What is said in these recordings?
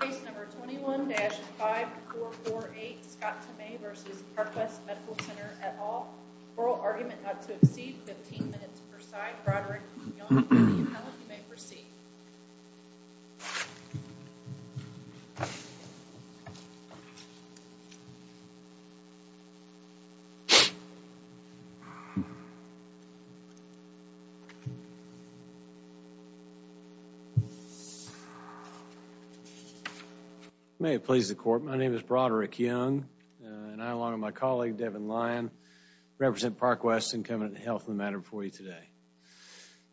Case number 21-5448 Scott Tomei v. Parkwest Medical Center et al. Oral argument not to exceed 15 minutes per side. Broderick, Young, Kennedy, and Howell, you may proceed. May it please the court, my name is Broderick Young, and I along with my colleague Devin Lyon represent Parkwest and Covenant Health in the matter before you today.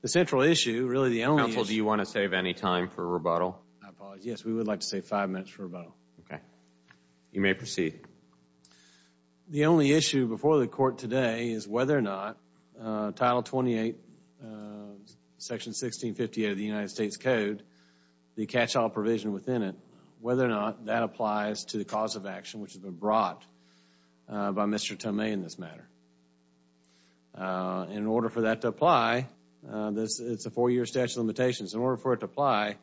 The central issue, really the only issue... Counsel, do you want to save any time for rebuttal? I apologize. Yes, we would like to save five minutes for rebuttal. Okay. You may proceed. The only issue before the court today is whether or not Title 28, Section 1658 of the United States Code, the catch-all provision within it, whether or not that applies to the cause of action which has been brought by Mr. Tomei in this matter. In order for that to apply, it's a four-year statute of limitations. In order for it to apply,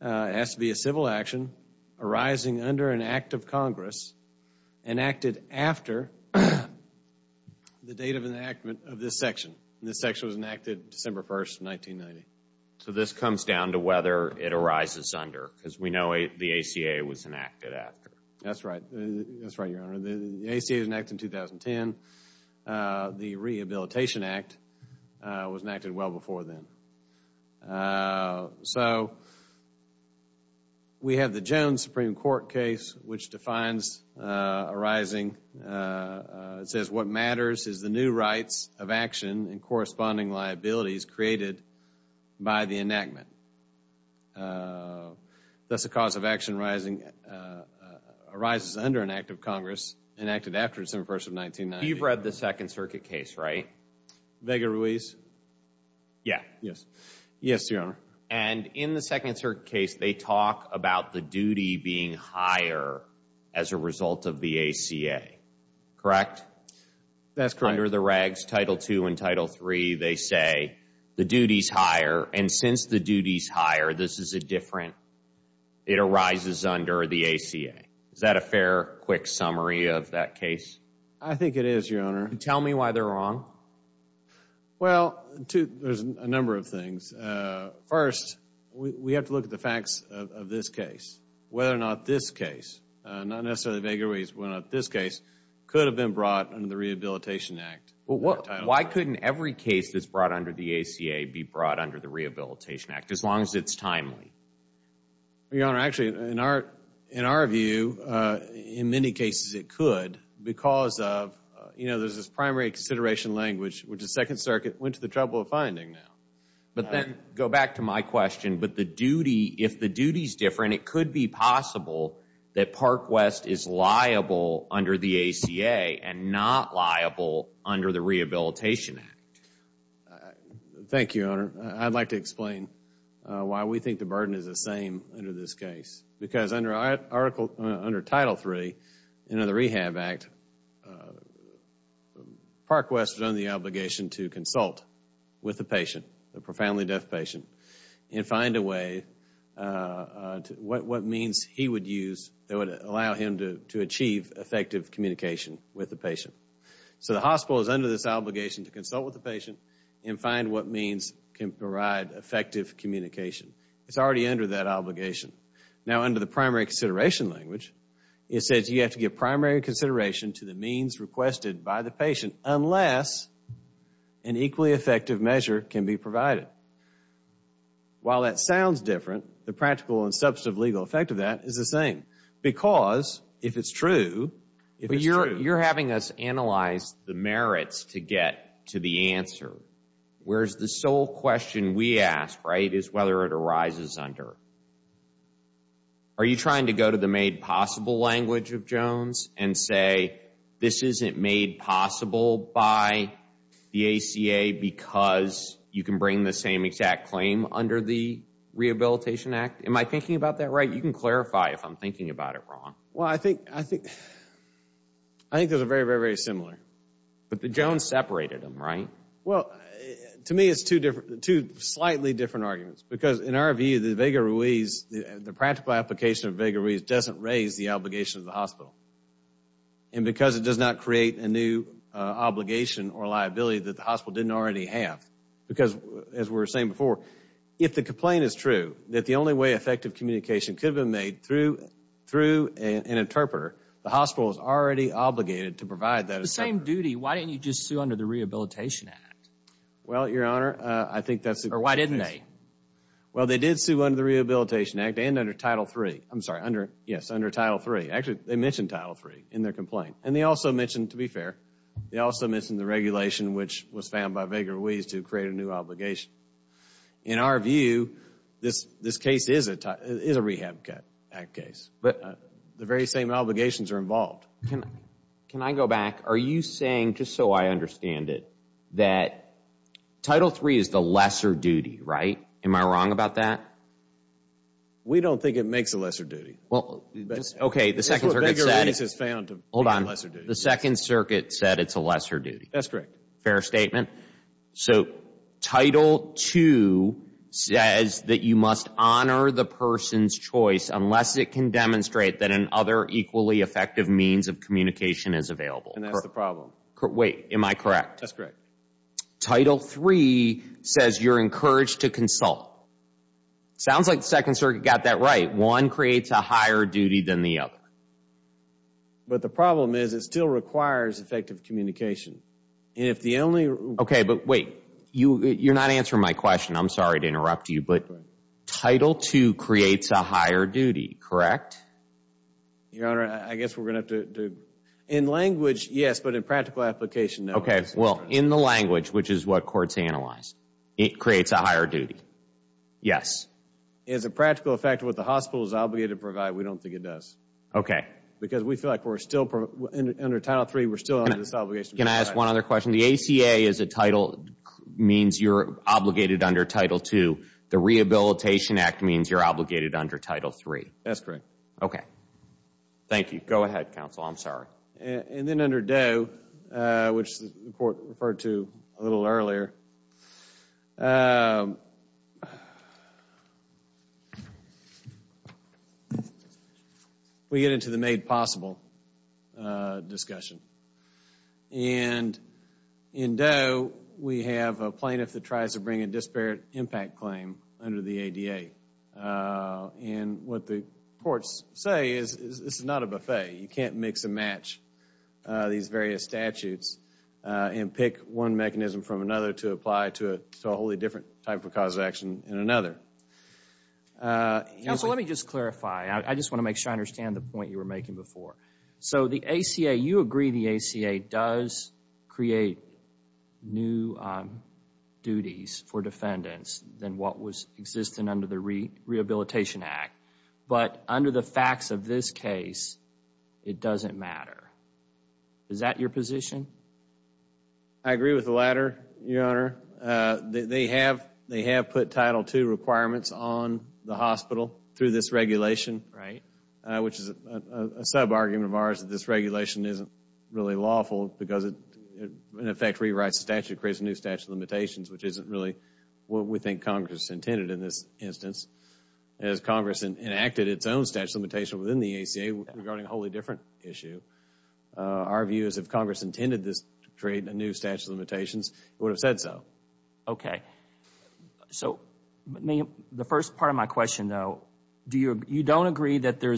it has to be a civil action arising under an act of Congress enacted after the date of enactment of this section. This section was enacted December 1, 1990. So this comes down to whether it arises under, because we know the ACA was enacted after. That's right. That's right, Your Honor. The ACA was enacted in 2010. The Rehabilitation Act was enacted well before then. So we have the Jones Supreme Court case which defines arising. It says what matters is the new rights of action and corresponding liabilities created by the enactment. Thus, the cause of action arises under an act of Congress enacted after December 1, 1990. You've read the Second Circuit case, right? Vega Ruiz? Yes. Yes, Your Honor. And in the Second Circuit case, they talk about the duty being higher as a result of the ACA, correct? That's correct. Title II and Title III, they say the duty is higher. And since the duty is higher, this is a different, it arises under the ACA. Is that a fair, quick summary of that case? I think it is, Your Honor. Tell me why they're wrong. Well, there's a number of things. First, we have to look at the facts of this case. Whether or not this case, not necessarily Vega Ruiz, but whether or not this case could have been brought under the Rehabilitation Act. Why couldn't every case that's brought under the ACA be brought under the Rehabilitation Act as long as it's timely? Your Honor, actually, in our view, in many cases it could because of, you know, there's this primary consideration language which the Second Circuit went to the trouble of finding now. But then, go back to my question, but the duty, if the duty is different, it could be possible that Park West is liable under the ACA and not liable under the Rehabilitation Act. Thank you, Your Honor. I'd like to explain why we think the burden is the same under this case. Because under Title III, under the Rehab Act, Park West is under the obligation to consult with the patient, the profoundly deaf patient, and find a way, what means he would use that would allow him to achieve effective communication with the patient. So the hospital is under this obligation to consult with the patient and find what means can provide effective communication. It's already under that obligation. Now, under the primary consideration language, it says you have to give primary consideration to the means requested by the patient unless an equally effective measure can be provided. While that sounds different, the practical and substantive legal effect of that is the same. Because if it's true, if it's true… But you're having us analyze the merits to get to the answer. Whereas the sole question we ask, right, is whether it arises under… Are you trying to go to the made possible language of Jones and say this isn't made possible by the ACA because you can bring the same exact claim under the Rehabilitation Act? Am I thinking about that right? You can clarify if I'm thinking about it wrong. Well, I think… I think those are very, very, very similar. But the Jones separated them, right? Well, to me it's two slightly different arguments. Because in our view, the Vega-Ruiz, the practical application of Vega-Ruiz doesn't raise the obligation of the hospital. And because it does not create a new obligation or liability that the hospital didn't already have. Because, as we were saying before, if the complaint is true, that the only way effective communication could have been made through an interpreter, the hospital is already obligated to provide that. If it's the same duty, why didn't you just sue under the Rehabilitation Act? Well, Your Honor, I think that's… Or why didn't they? Well, they did sue under the Rehabilitation Act and under Title III. I'm sorry, yes, under Title III. Actually, they mentioned Title III in their complaint. And they also mentioned, to be fair, they also mentioned the regulation, which was found by Vega-Ruiz to create a new obligation. In our view, this case is a Rehab Act case. But the very same obligations are involved. Can I go back? Are you saying, just so I understand it, that Title III is the lesser duty, right? Am I wrong about that? We don't think it makes a lesser duty. Okay, the Second Circuit said it's a lesser duty. That's correct. Fair statement. So Title II says that you must honor the person's choice unless it can demonstrate that another equally effective means of communication is available. And that's the problem. Wait, am I correct? That's correct. Title III says you're encouraged to consult. Sounds like the Second Circuit got that right. One creates a higher duty than the other. But the problem is it still requires effective communication. And if the only… Okay, but wait. You're not answering my question. I'm sorry to interrupt you. But Title II creates a higher duty, correct? Your Honor, I guess we're going to have to… In language, yes, but in practical application, no. Okay, well, in the language, which is what courts analyze, it creates a higher duty. Yes. Is a practical effect what the hospital is obligated to provide? We don't think it does. Okay. Because we feel like we're still… Under Title III, we're still under this obligation to provide. Can I ask one other question? The ACA means you're obligated under Title II. The Rehabilitation Act means you're obligated under Title III. That's correct. Okay. Thank you. Go ahead, counsel. I'm sorry. And then under Doe, which the Court referred to a little earlier, we get into the made possible discussion. And in Doe, we have a plaintiff that tries to bring a disparate impact claim under the ADA. And what the courts say is this is not a buffet. You can't mix and match these various statutes and pick one mechanism from another to apply to a wholly different type of cause of action in another. Counsel, let me just clarify. I just want to make sure I understand the point you were making before. So the ACA, you agree the ACA does create new duties for defendants than what was existing under the Rehabilitation Act. But under the facts of this case, it doesn't matter. Is that your position? I agree with the latter, Your Honor. They have put Title II requirements on the hospital through this regulation, which is a sub-argument of ours that this regulation isn't really lawful because it, in effect, rewrites the statute, creates a new statute of limitations, which isn't really what we think Congress intended in this instance. As Congress enacted its own statute of limitations within the ACA regarding a wholly different issue, our view is if Congress intended this to create a new statute of limitations, it would have said so. Okay. So the first part of my question, though, you don't agree that there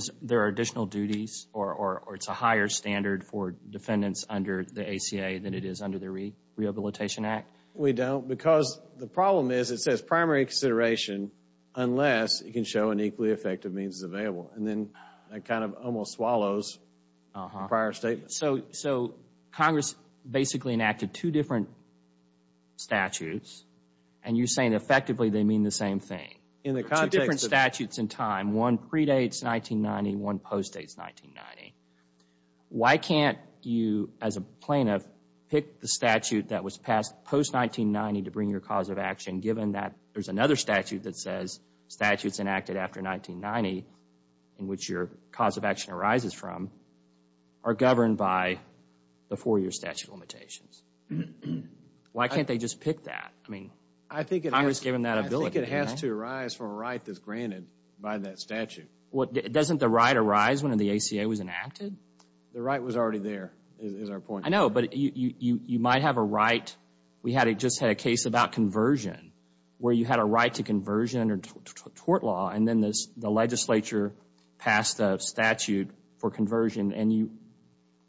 are additional duties or it's a higher standard for defendants under the ACA than it is under the Rehabilitation Act? We don't because the problem is it says primary consideration unless it can show an equally effective means is available, and then that kind of almost swallows the prior statement. So Congress basically enacted two different statutes, and you're saying effectively they mean the same thing. Two different statutes in time. One predates 1990, one post-dates 1990. Why can't you, as a plaintiff, pick the statute that was passed post-1990 to bring your cause of action given that there's another statute that says statutes enacted after 1990 in which your cause of action arises from are governed by the four-year statute of limitations? Why can't they just pick that? I mean, Congress gave them that ability. I think it has to arise from a right that's granted by that statute. Doesn't the right arise when the ACA was enacted? The right was already there is our point. I know, but you might have a right. We just had a case about conversion where you had a right to conversion under tort law and then the legislature passed a statute for conversion, and you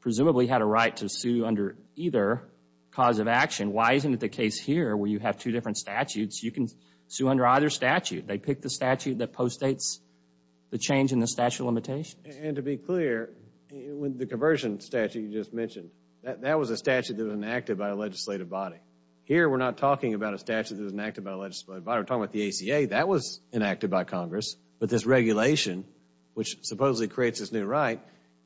presumably had a right to sue under either cause of action. Why isn't it the case here where you have two different statutes? You can sue under either statute. They pick the statute that post-dates the change in the statute of limitations. And to be clear, the conversion statute you just mentioned, that was a statute that was enacted by a legislative body. Here we're not talking about a statute that was enacted by a legislative body. We're talking about the ACA. That was enacted by Congress, but this regulation, which supposedly creates this new right,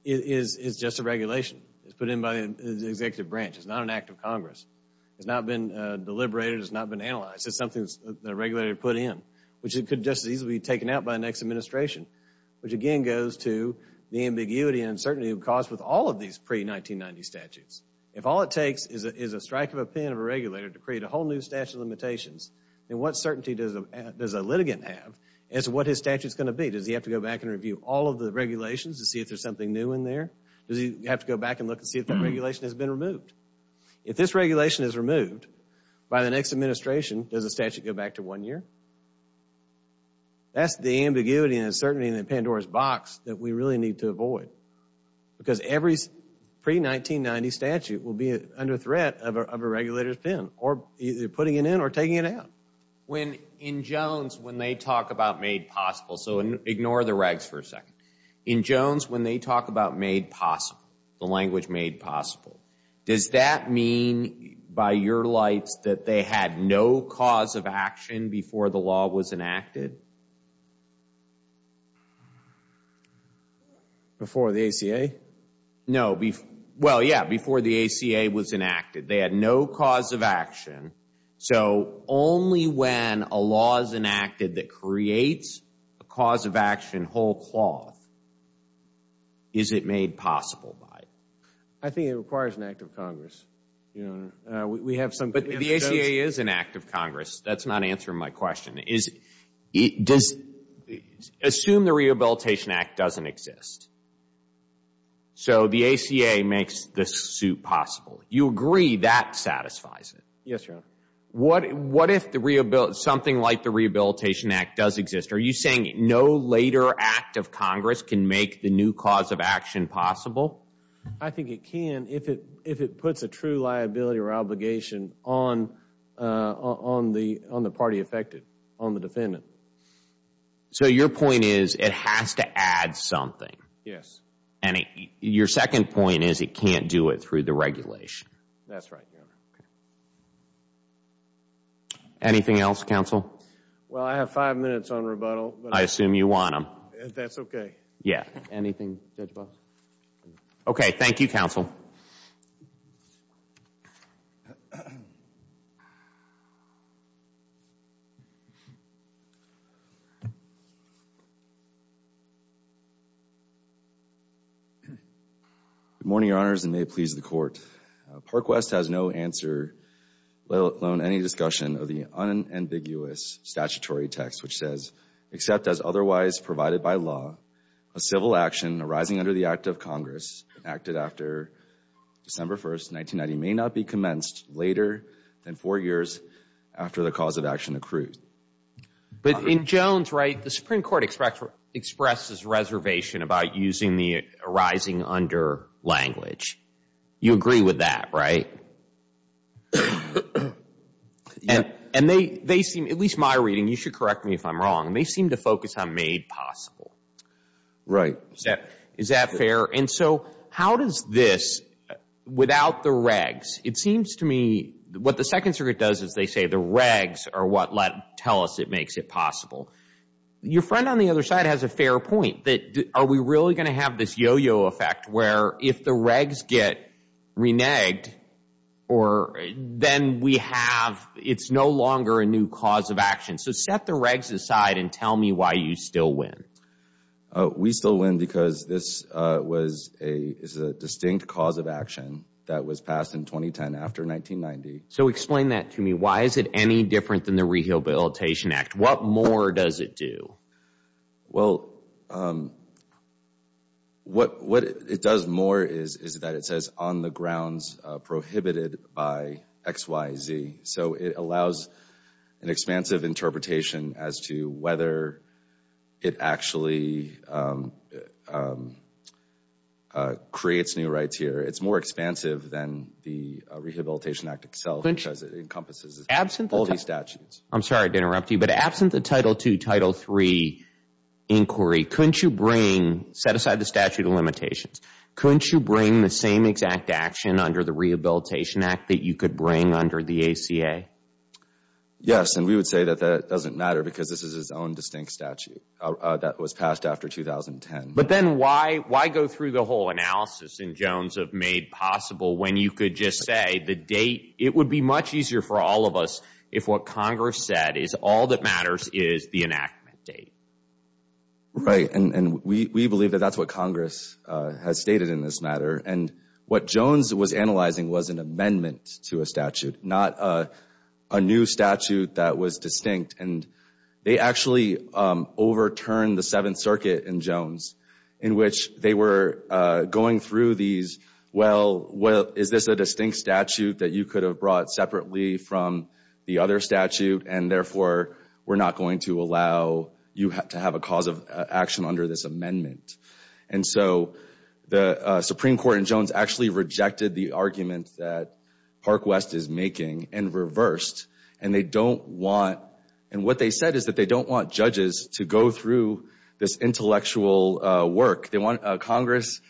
is just a regulation. It's put in by the executive branch. It's not an act of Congress. It's not been deliberated. It's not been analyzed. It's something that a regulator put in, which could just as easily be taken out by the next administration, which again goes to the ambiguity and uncertainty caused with all of these pre-1990 statutes. If all it takes is a strike of a pen of a regulator to create a whole new statute of limitations, then what certainty does a litigant have as to what his statute's going to be? Does he have to go back and review all of the regulations to see if there's something new in there? Does he have to go back and look and see if that regulation has been removed? If this regulation is removed by the next administration, does the statute go back to one year? That's the ambiguity and uncertainty in the Pandora's box that we really need to avoid because every pre-1990 statute will be under threat of a regulator's pen putting it in or taking it out. In Jones, when they talk about made possible, so ignore the regs for a second. In Jones, when they talk about made possible, the language made possible, does that mean by your lights that they had no cause of action before the law was enacted? Before the ACA? No. Well, yeah, before the ACA was enacted. They had no cause of action. So only when a law is enacted that creates a cause of action whole cloth is it made possible by it. I think it requires an act of Congress. But the ACA is an act of Congress. That's not answering my question. Assume the Rehabilitation Act doesn't exist. So the ACA makes this suit possible. You agree that satisfies it? Yes, Your Honor. What if something like the Rehabilitation Act does exist? Are you saying no later act of Congress can make the new cause of action possible? I think it can if it puts a true liability or obligation on the party affected, on the defendant. So your point is it has to add something? Yes. Your second point is it can't do it through the regulation? That's right, Your Honor. Anything else, counsel? Well, I have five minutes on rebuttal. I assume you want them. If that's okay. Yeah. Anything, Judge Box? Okay. Thank you, counsel. Good morning, Your Honors, and may it please the Court. Park West has no answer, let alone any discussion, of the unambiguous statutory text which says, except as otherwise provided by law, a civil action arising under the act of Congress, acted after December 1st, 1990, may not be commenced later than four years after the cause of action accrued. But in Jones, right, the Supreme Court expresses reservation about using the arising under language. You agree with that, right? And they seem, at least my reading, you should correct me if I'm wrong, they seem to focus on made possible. Right. Is that fair? And so how does this, without the regs, it seems to me, what the Second Circuit does is they say the regs are what tell us it makes it possible. Your friend on the other side has a fair point. Are we really going to have this yo-yo effect where if the regs get reneged, then we have, it's no longer a new cause of action. So set the regs aside and tell me why you still win. We still win because this is a distinct cause of action that was passed in 2010 after 1990. So explain that to me. Why is it any different than the Rehabilitation Act? What more does it do? Well, what it does more is that it says on the grounds prohibited by XYZ. So it allows an expansive interpretation as to whether it actually creates new rights here. It's more expansive than the Rehabilitation Act itself because it encompasses all these statutes. I'm sorry to interrupt you, but absent the Title II, Title III inquiry, couldn't you bring, set aside the statute of limitations, couldn't you bring the same exact action under the Rehabilitation Act that you could bring under the ACA? Yes, and we would say that that doesn't matter because this is its own distinct statute that was passed after 2010. But then why go through the whole analysis and Jones have made possible when you could just say the date, it would be much easier for all of us if what Congress said is all that matters is the enactment date. Right, and we believe that that's what Congress has stated in this matter. And what Jones was analyzing was an amendment to a statute, not a new statute that was distinct. And they actually overturned the Seventh Circuit in Jones in which they were going through these, well, is this a distinct statute that you could have brought separately from the other statute and therefore we're not going to allow you to have a cause of action under this amendment. And so the Supreme Court in Jones actually rejected the argument that Park West is making and reversed. And they don't want, and what they said is that they don't want judges to go through this intellectual work. Congress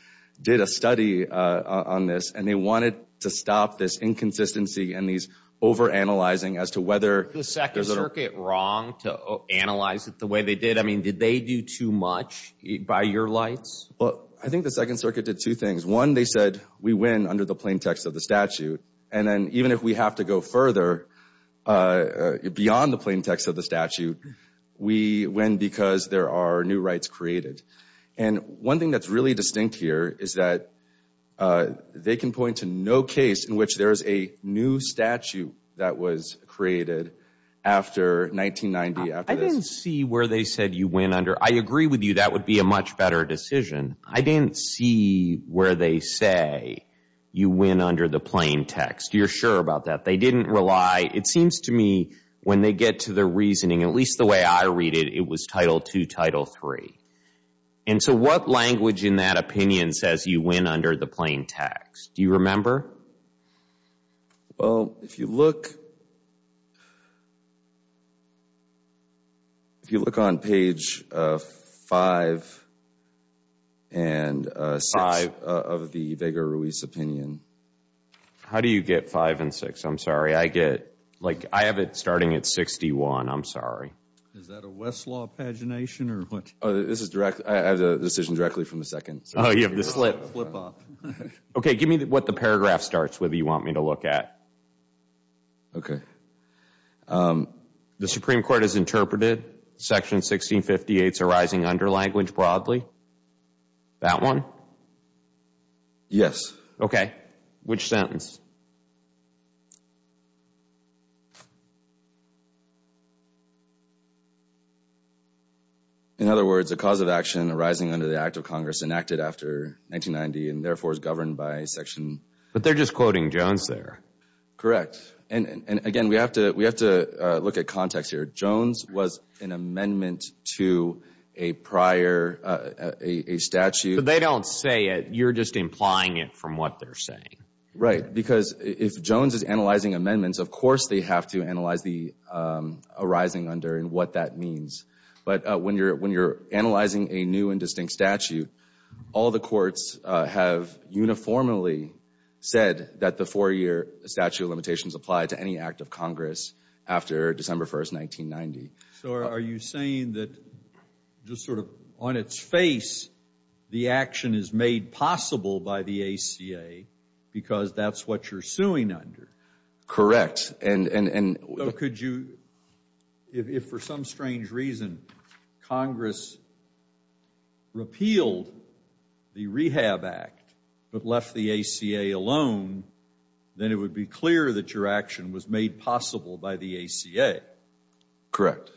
did a study on this and they wanted to stop this inconsistency and these overanalyzing as to whether. Was the Second Circuit wrong to analyze it the way they did? I mean, did they do too much by your lights? Well, I think the Second Circuit did two things. One, they said we win under the plain text of the statute. And then even if we have to go further beyond the plain text of the statute, we win because there are new rights created. And one thing that's really distinct here is that they can point to no case in which there is a new statute that was created after 1990. I didn't see where they said you win under. I agree with you that would be a much better decision. I didn't see where they say you win under the plain text. You're sure about that? It seems to me when they get to their reasoning, at least the way I read it, it was Title II, Title III. And so what language in that opinion says you win under the plain text? Do you remember? Well, if you look on page five and six of the Vega-Ruiz opinion. How do you get five and six? I'm sorry. I get, like, I have it starting at 61. I'm sorry. Is that a Westlaw pagination or what? This is direct. I have the decision directly from the Second Circuit. Oh, you have the slip. Okay, give me what the paragraph starts with you want me to look at. Okay. The Supreme Court has interpreted Section 1658's arising under language broadly. That one? Yes. Okay. Which sentence? In other words, a cause of action arising under the Act of Congress enacted after 1990 and therefore is governed by Section. But they're just quoting Jones there. Correct. And, again, we have to look at context here. Jones was an amendment to a prior statute. But they don't say it. You're just implying it from what they're saying. Right, because if Jones is analyzing amendments, of course they have to analyze the arising under and what that means. But when you're analyzing a new and distinct statute, all the courts have uniformly said that the four-year statute of limitations apply to any Act of Congress after December 1, 1990. So are you saying that just sort of on its face, the action is made possible by the ACA because that's what you're suing under? Correct. So could you, if for some strange reason Congress repealed the Rehab Act but left the ACA alone, then it would be clear that your action was made possible by the ACA. Correct.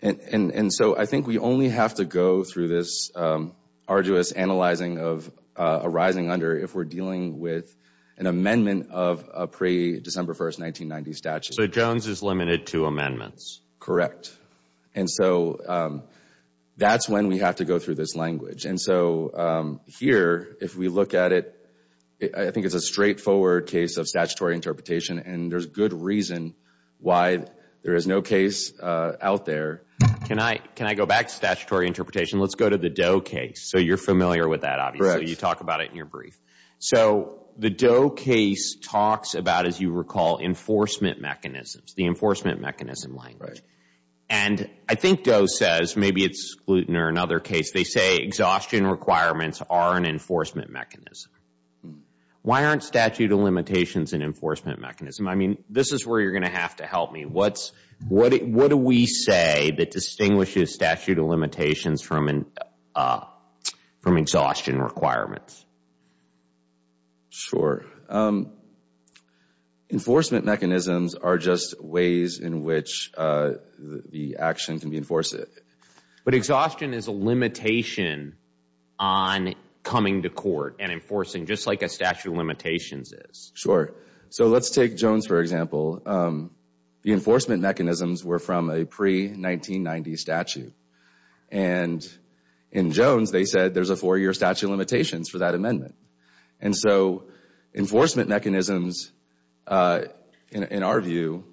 And so I think we only have to go through this arduous analyzing of arising under if we're dealing with an amendment of a pre-December 1, 1990 statute. So Jones is limited to amendments. Correct. And so that's when we have to go through this language. And so here, if we look at it, I think it's a straightforward case of statutory interpretation, and there's good reason why there is no case out there. Can I go back to statutory interpretation? Let's go to the Doe case. So you're familiar with that, obviously. You talk about it in your brief. So the Doe case talks about, as you recall, enforcement mechanisms, the enforcement mechanism language. And I think Doe says, maybe it's Glutton or another case, they say exhaustion requirements are an enforcement mechanism. Why aren't statute of limitations an enforcement mechanism? I mean, this is where you're going to have to help me. What do we say that distinguishes statute of limitations from exhaustion requirements? Sure. Enforcement mechanisms are just ways in which the action can be enforced. But exhaustion is a limitation on coming to court and enforcing just like a statute of limitations is. Sure. So let's take Jones, for example. The enforcement mechanisms were from a pre-1990 statute. And in Jones, they said there's a four-year statute of limitations for that amendment. And so enforcement mechanisms, in our view,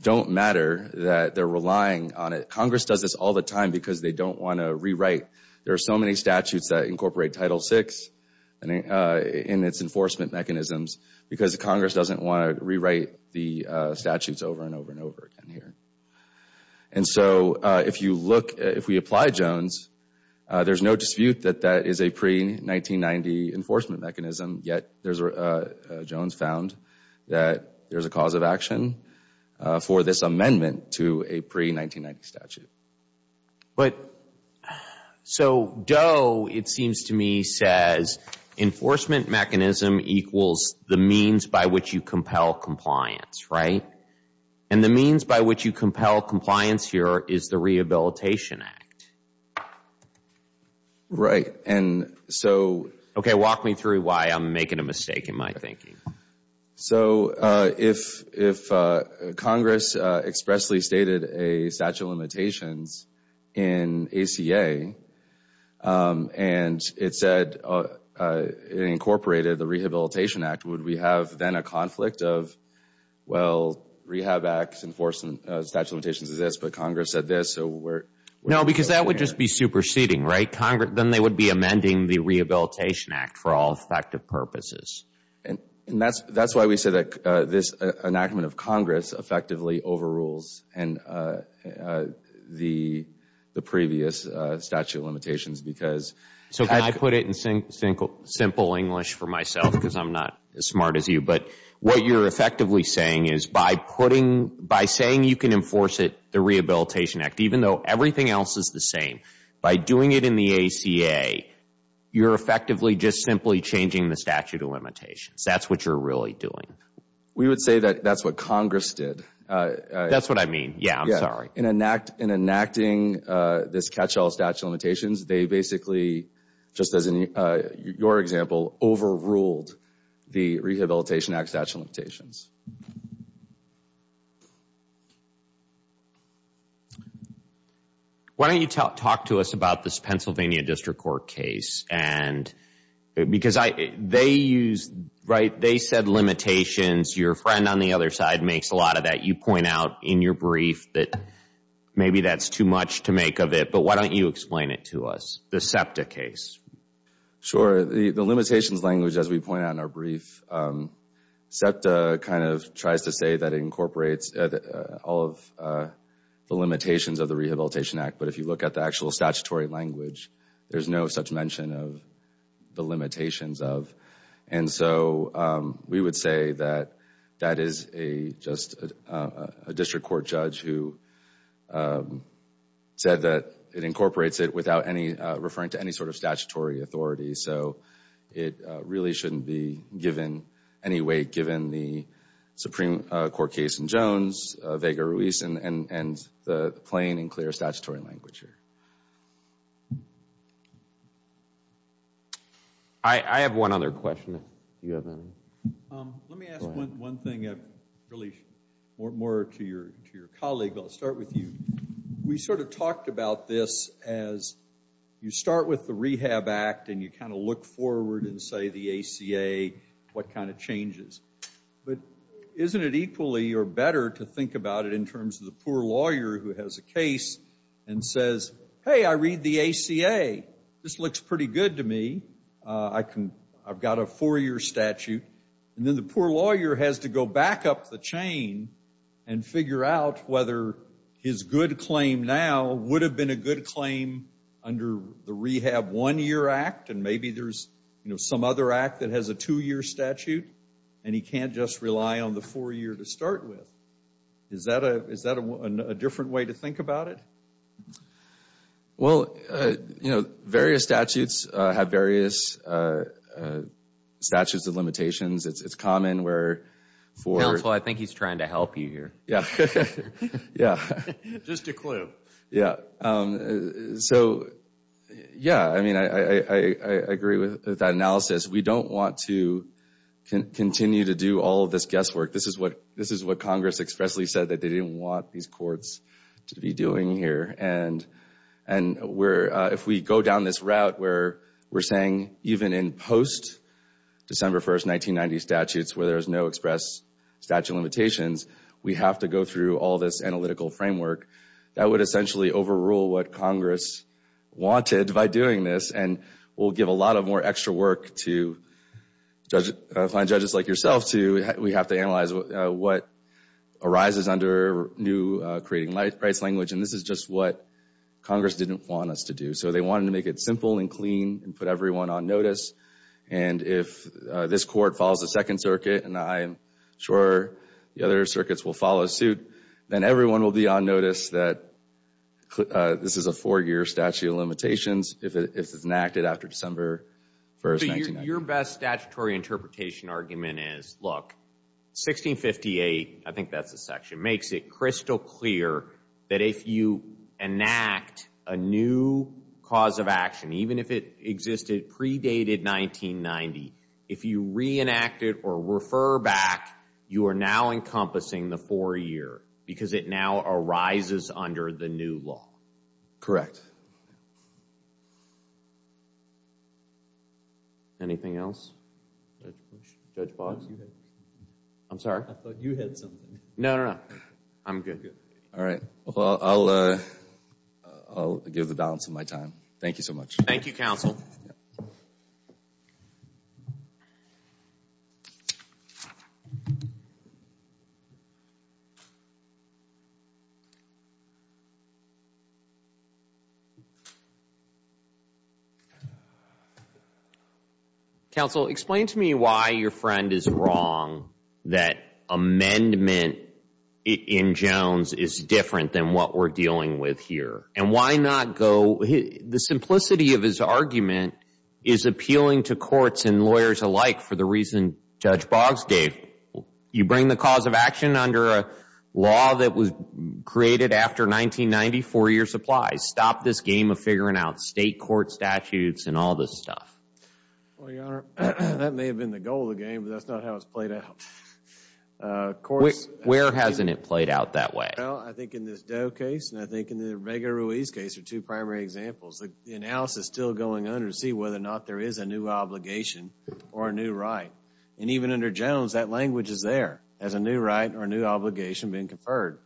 don't matter, that they're relying on it. Congress does this all the time because they don't want to rewrite. There are so many statutes that incorporate Title VI in its enforcement mechanisms because Congress doesn't want to rewrite the statutes over and over and over again here. And so if we apply Jones, there's no dispute that that is a pre-1990 enforcement mechanism, yet Jones found that there's a cause of action for this amendment to a pre-1990 statute. So Doe, it seems to me, says enforcement mechanism equals the means by which you compel compliance, right? And the means by which you compel compliance here is the Rehabilitation Act. Right. Okay, walk me through why I'm making a mistake in my thinking. So if Congress expressly stated a statute of limitations in ACA and it incorporated the Rehabilitation Act, would we have then a conflict of, well, Rehab Act enforcement statute of limitations is this, but Congress said this, so we're— No, because that would just be superseding, right? Then they would be amending the Rehabilitation Act for all effective purposes. And that's why we say that this enactment of Congress effectively overrules the previous statute of limitations because— So can I put it in simple English for myself because I'm not as smart as you, but what you're effectively saying is by saying you can enforce it, the Rehabilitation Act, even though everything else is the same, by doing it in the ACA, you're effectively just simply changing the statute of limitations. That's what you're really doing. We would say that that's what Congress did. That's what I mean. Yeah, I'm sorry. In enacting this catch-all statute of limitations, they basically, just as in your example, overruled the Rehabilitation Act statute of limitations. Why don't you talk to us about this Pennsylvania District Court case? Because they said limitations. Your friend on the other side makes a lot of that. You point out in your brief that maybe that's too much to make of it, but why don't you explain it to us, the SEPTA case? Sure. The limitations language, as we point out in our brief, SEPTA kind of tries to say that it incorporates all of the limitations of the Rehabilitation Act, but if you look at the actual statutory language, there's no such mention of the limitations of. And so we would say that that is just a district court judge who said that it incorporates it without referring to any sort of statutory authority. So it really shouldn't be given any weight, given the Supreme Court case in Jones, Vega-Ruiz, and the plain and clear statutory language here. I have one other question. Do you have any? Let me ask one thing, really more to your colleague, but I'll start with you. We sort of talked about this as you start with the Rehab Act, and you kind of look forward and say the ACA, what kind of changes. But isn't it equally or better to think about it in terms of the poor lawyer who has a case and says, hey, I read the ACA. This looks pretty good to me. I've got a four-year statute. And then the poor lawyer has to go back up the chain and figure out whether his good claim now would have been a good claim under the Rehab One-Year Act, and maybe there's some other act that has a two-year statute, and he can't just rely on the four-year to start with. Is that a different way to think about it? Well, you know, various statutes have various statutes of limitations. It's common where for... Counsel, I think he's trying to help you here. Yeah. Just a clue. Yeah. So, yeah, I mean, I agree with that analysis. We don't want to continue to do all of this guesswork. This is what Congress expressly said that they didn't want these courts to be doing here. And if we go down this route where we're saying even in post-December 1, 1990, statutes where there's no express statute of limitations, we have to go through all this analytical framework, that would essentially overrule what Congress wanted by doing this, and will give a lot of more extra work to find judges like yourself to have to analyze what arises under new creating rights language. And this is just what Congress didn't want us to do. So they wanted to make it simple and clean and put everyone on notice. And if this court follows the Second Circuit, and I'm sure the other circuits will follow suit, then everyone will be on notice that this is a four-year statute of limitations. If it's enacted after December 1, 1990. So your best statutory interpretation argument is, look, 1658, I think that's the section, makes it crystal clear that if you enact a new cause of action, even if it existed predated 1990, if you reenact it or refer back, you are now encompassing the four-year because it now arises under the new law. Correct. Anything else? Judge Box? I'm sorry? I thought you had something. No, no, no. I'm good. All right. Well, I'll give the balance of my time. Thank you so much. Thank you, counsel. Counsel, explain to me why your friend is wrong that amendment in Jones is different than what we're dealing with here. And why not go, the simplicity of his argument is appealing to courts and lawyers alike for the reason Judge Box gave. You bring the cause of action under a law that was created after 1990, four-year supplies. Stop this game of figuring out state court statutes and all this stuff. Well, Your Honor, that may have been the goal of the game, but that's not how it's played out. Where hasn't it played out that way? Well, I think in this Doe case and I think in the Vega-Ruiz case are two primary examples. The analysis is still going on to see whether or not there is a new obligation or a new right. And even under Jones, that language is there as a new right or a new obligation being conferred.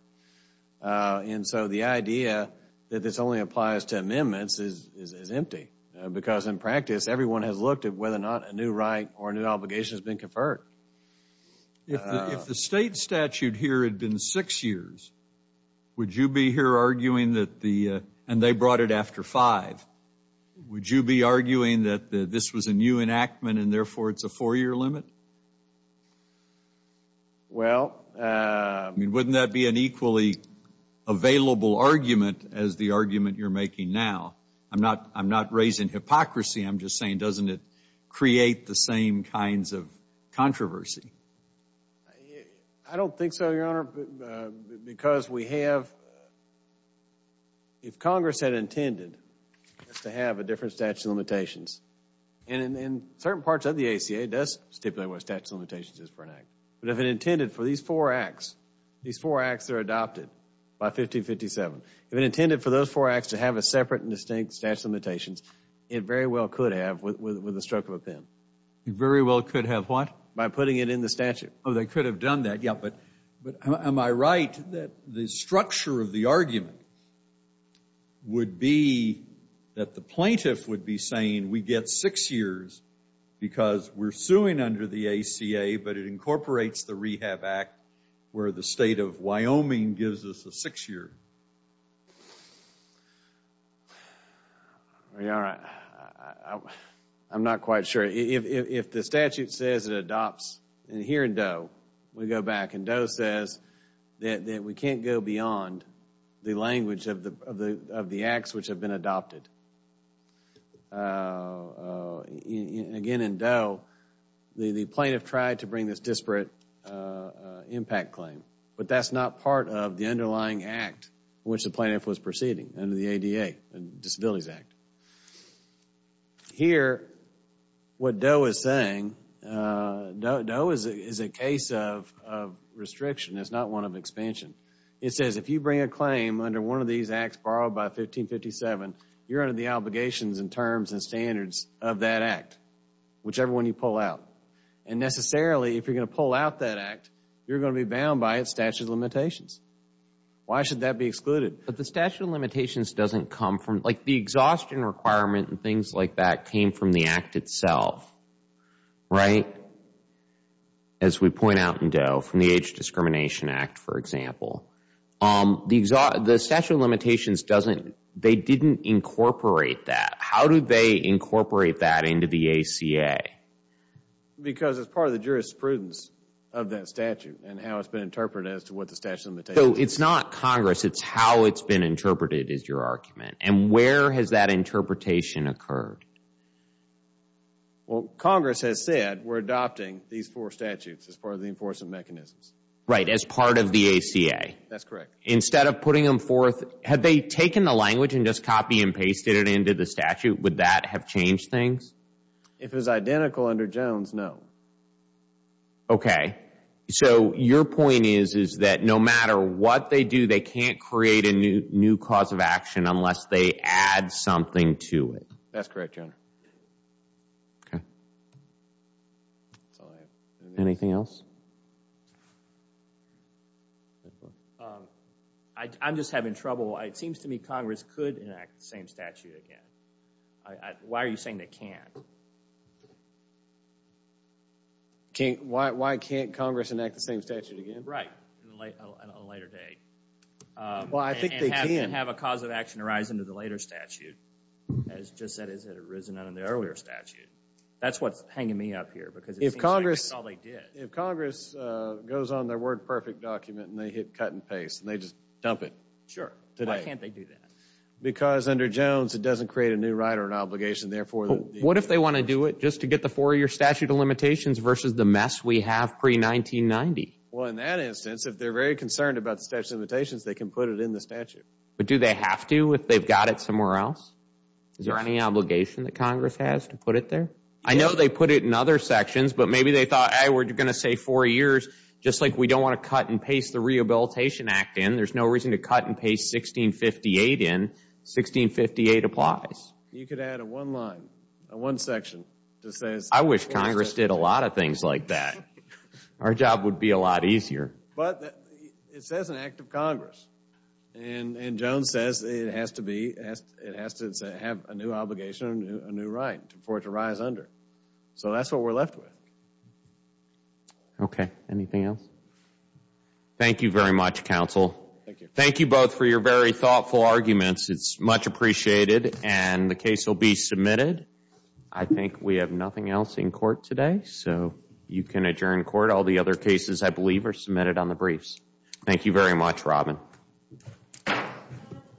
And so the idea that this only applies to amendments is empty because, in practice, everyone has looked at whether or not a new right or a new obligation has been conferred. If the state statute here had been six years, would you be here arguing that the and they brought it after five, would you be arguing that this was a new enactment and therefore it's a four-year limit? Well. I mean, wouldn't that be an equally available argument as the argument you're making now? I'm not raising hypocrisy. I'm just saying, doesn't it create the same kinds of controversy? I don't think so, Your Honor, because we have. If Congress had intended to have a different statute of limitations, and in certain parts of the ACA it does stipulate what a statute of limitations is for an act, but if it intended for these four acts, these four acts that are adopted by 1557, if it intended for those four acts to have a separate and distinct statute of limitations, it very well could have with the stroke of a pen. It very well could have what? By putting it in the statute. Oh, they could have done that, yeah, but am I right that the structure of the argument would be that the plaintiff would be saying we get six years because we're suing under the ACA, but it incorporates the Rehab Act where the state of Wyoming gives us a six-year? Your Honor, I'm not quite sure. If the statute says it adopts, and here in Doe, we go back, and Doe says that we can't go beyond the language of the acts which have been adopted. Again, in Doe, the plaintiff tried to bring this disparate impact claim, but that's not part of the underlying act in which the plaintiff was proceeding under the ADA, the Disabilities Act. Here, what Doe is saying, Doe is a case of restriction. It's not one of expansion. It says if you bring a claim under one of these acts borrowed by 1557, you're under the obligations and terms and standards of that act, whichever one you pull out. And necessarily, if you're going to pull out that act, you're going to be bound by its statute of limitations. Why should that be excluded? But the statute of limitations doesn't come from, like, the exhaustion requirement and things like that came from the act itself, right? As we point out in Doe, from the Age Discrimination Act, for example. The statute of limitations doesn't, they didn't incorporate that. How do they incorporate that into the ACA? Because it's part of the jurisprudence of that statute So it's not Congress, it's how it's been interpreted is your argument. And where has that interpretation occurred? Well, Congress has said we're adopting these four statutes as part of the enforcement mechanisms. Right, as part of the ACA. That's correct. Instead of putting them forth, had they taken the language and just copied and pasted it into the statute, would that have changed things? If it was identical under Jones, no. Okay. So your point is, is that no matter what they do, they can't create a new cause of action unless they add something to it. That's correct, Your Honor. Okay. Anything else? I'm just having trouble. It seems to me Congress could enact the same statute again. Why are you saying they can't? Why can't Congress enact the same statute again? Right, on a later date. Well, I think they can. And have a cause of action arise under the later statute, as just as it had arisen under the earlier statute. That's what's hanging me up here because it seems like that's all they did. If Congress goes on their WordPerfect document and they hit cut and paste and they just dump it. Sure. Why can't they do that? Because under Jones it doesn't create a new right or an obligation, therefore. What if they want to do it just to get the four-year statute of limitations versus the mess we have pre-1990? Well, in that instance, if they're very concerned about the statute of limitations, they can put it in the statute. But do they have to if they've got it somewhere else? Is there any obligation that Congress has to put it there? I know they put it in other sections, but maybe they thought, hey, we're going to say four years just like we don't want to cut and paste the Rehabilitation Act in. There's no reason to cut and paste 1658 in. 1658 applies. You could add a one line, a one section to say it's four years. I wish Congress did a lot of things like that. Our job would be a lot easier. But it says an act of Congress. And Jones says it has to have a new obligation, a new right for it to rise under. So that's what we're left with. Okay. Anything else? Thank you very much, counsel. Thank you both for your very thoughtful arguments. It's much appreciated. And the case will be submitted. I think we have nothing else in court today. So you can adjourn court. All the other cases, I believe, are submitted on the briefs. Thank you very much, Robin.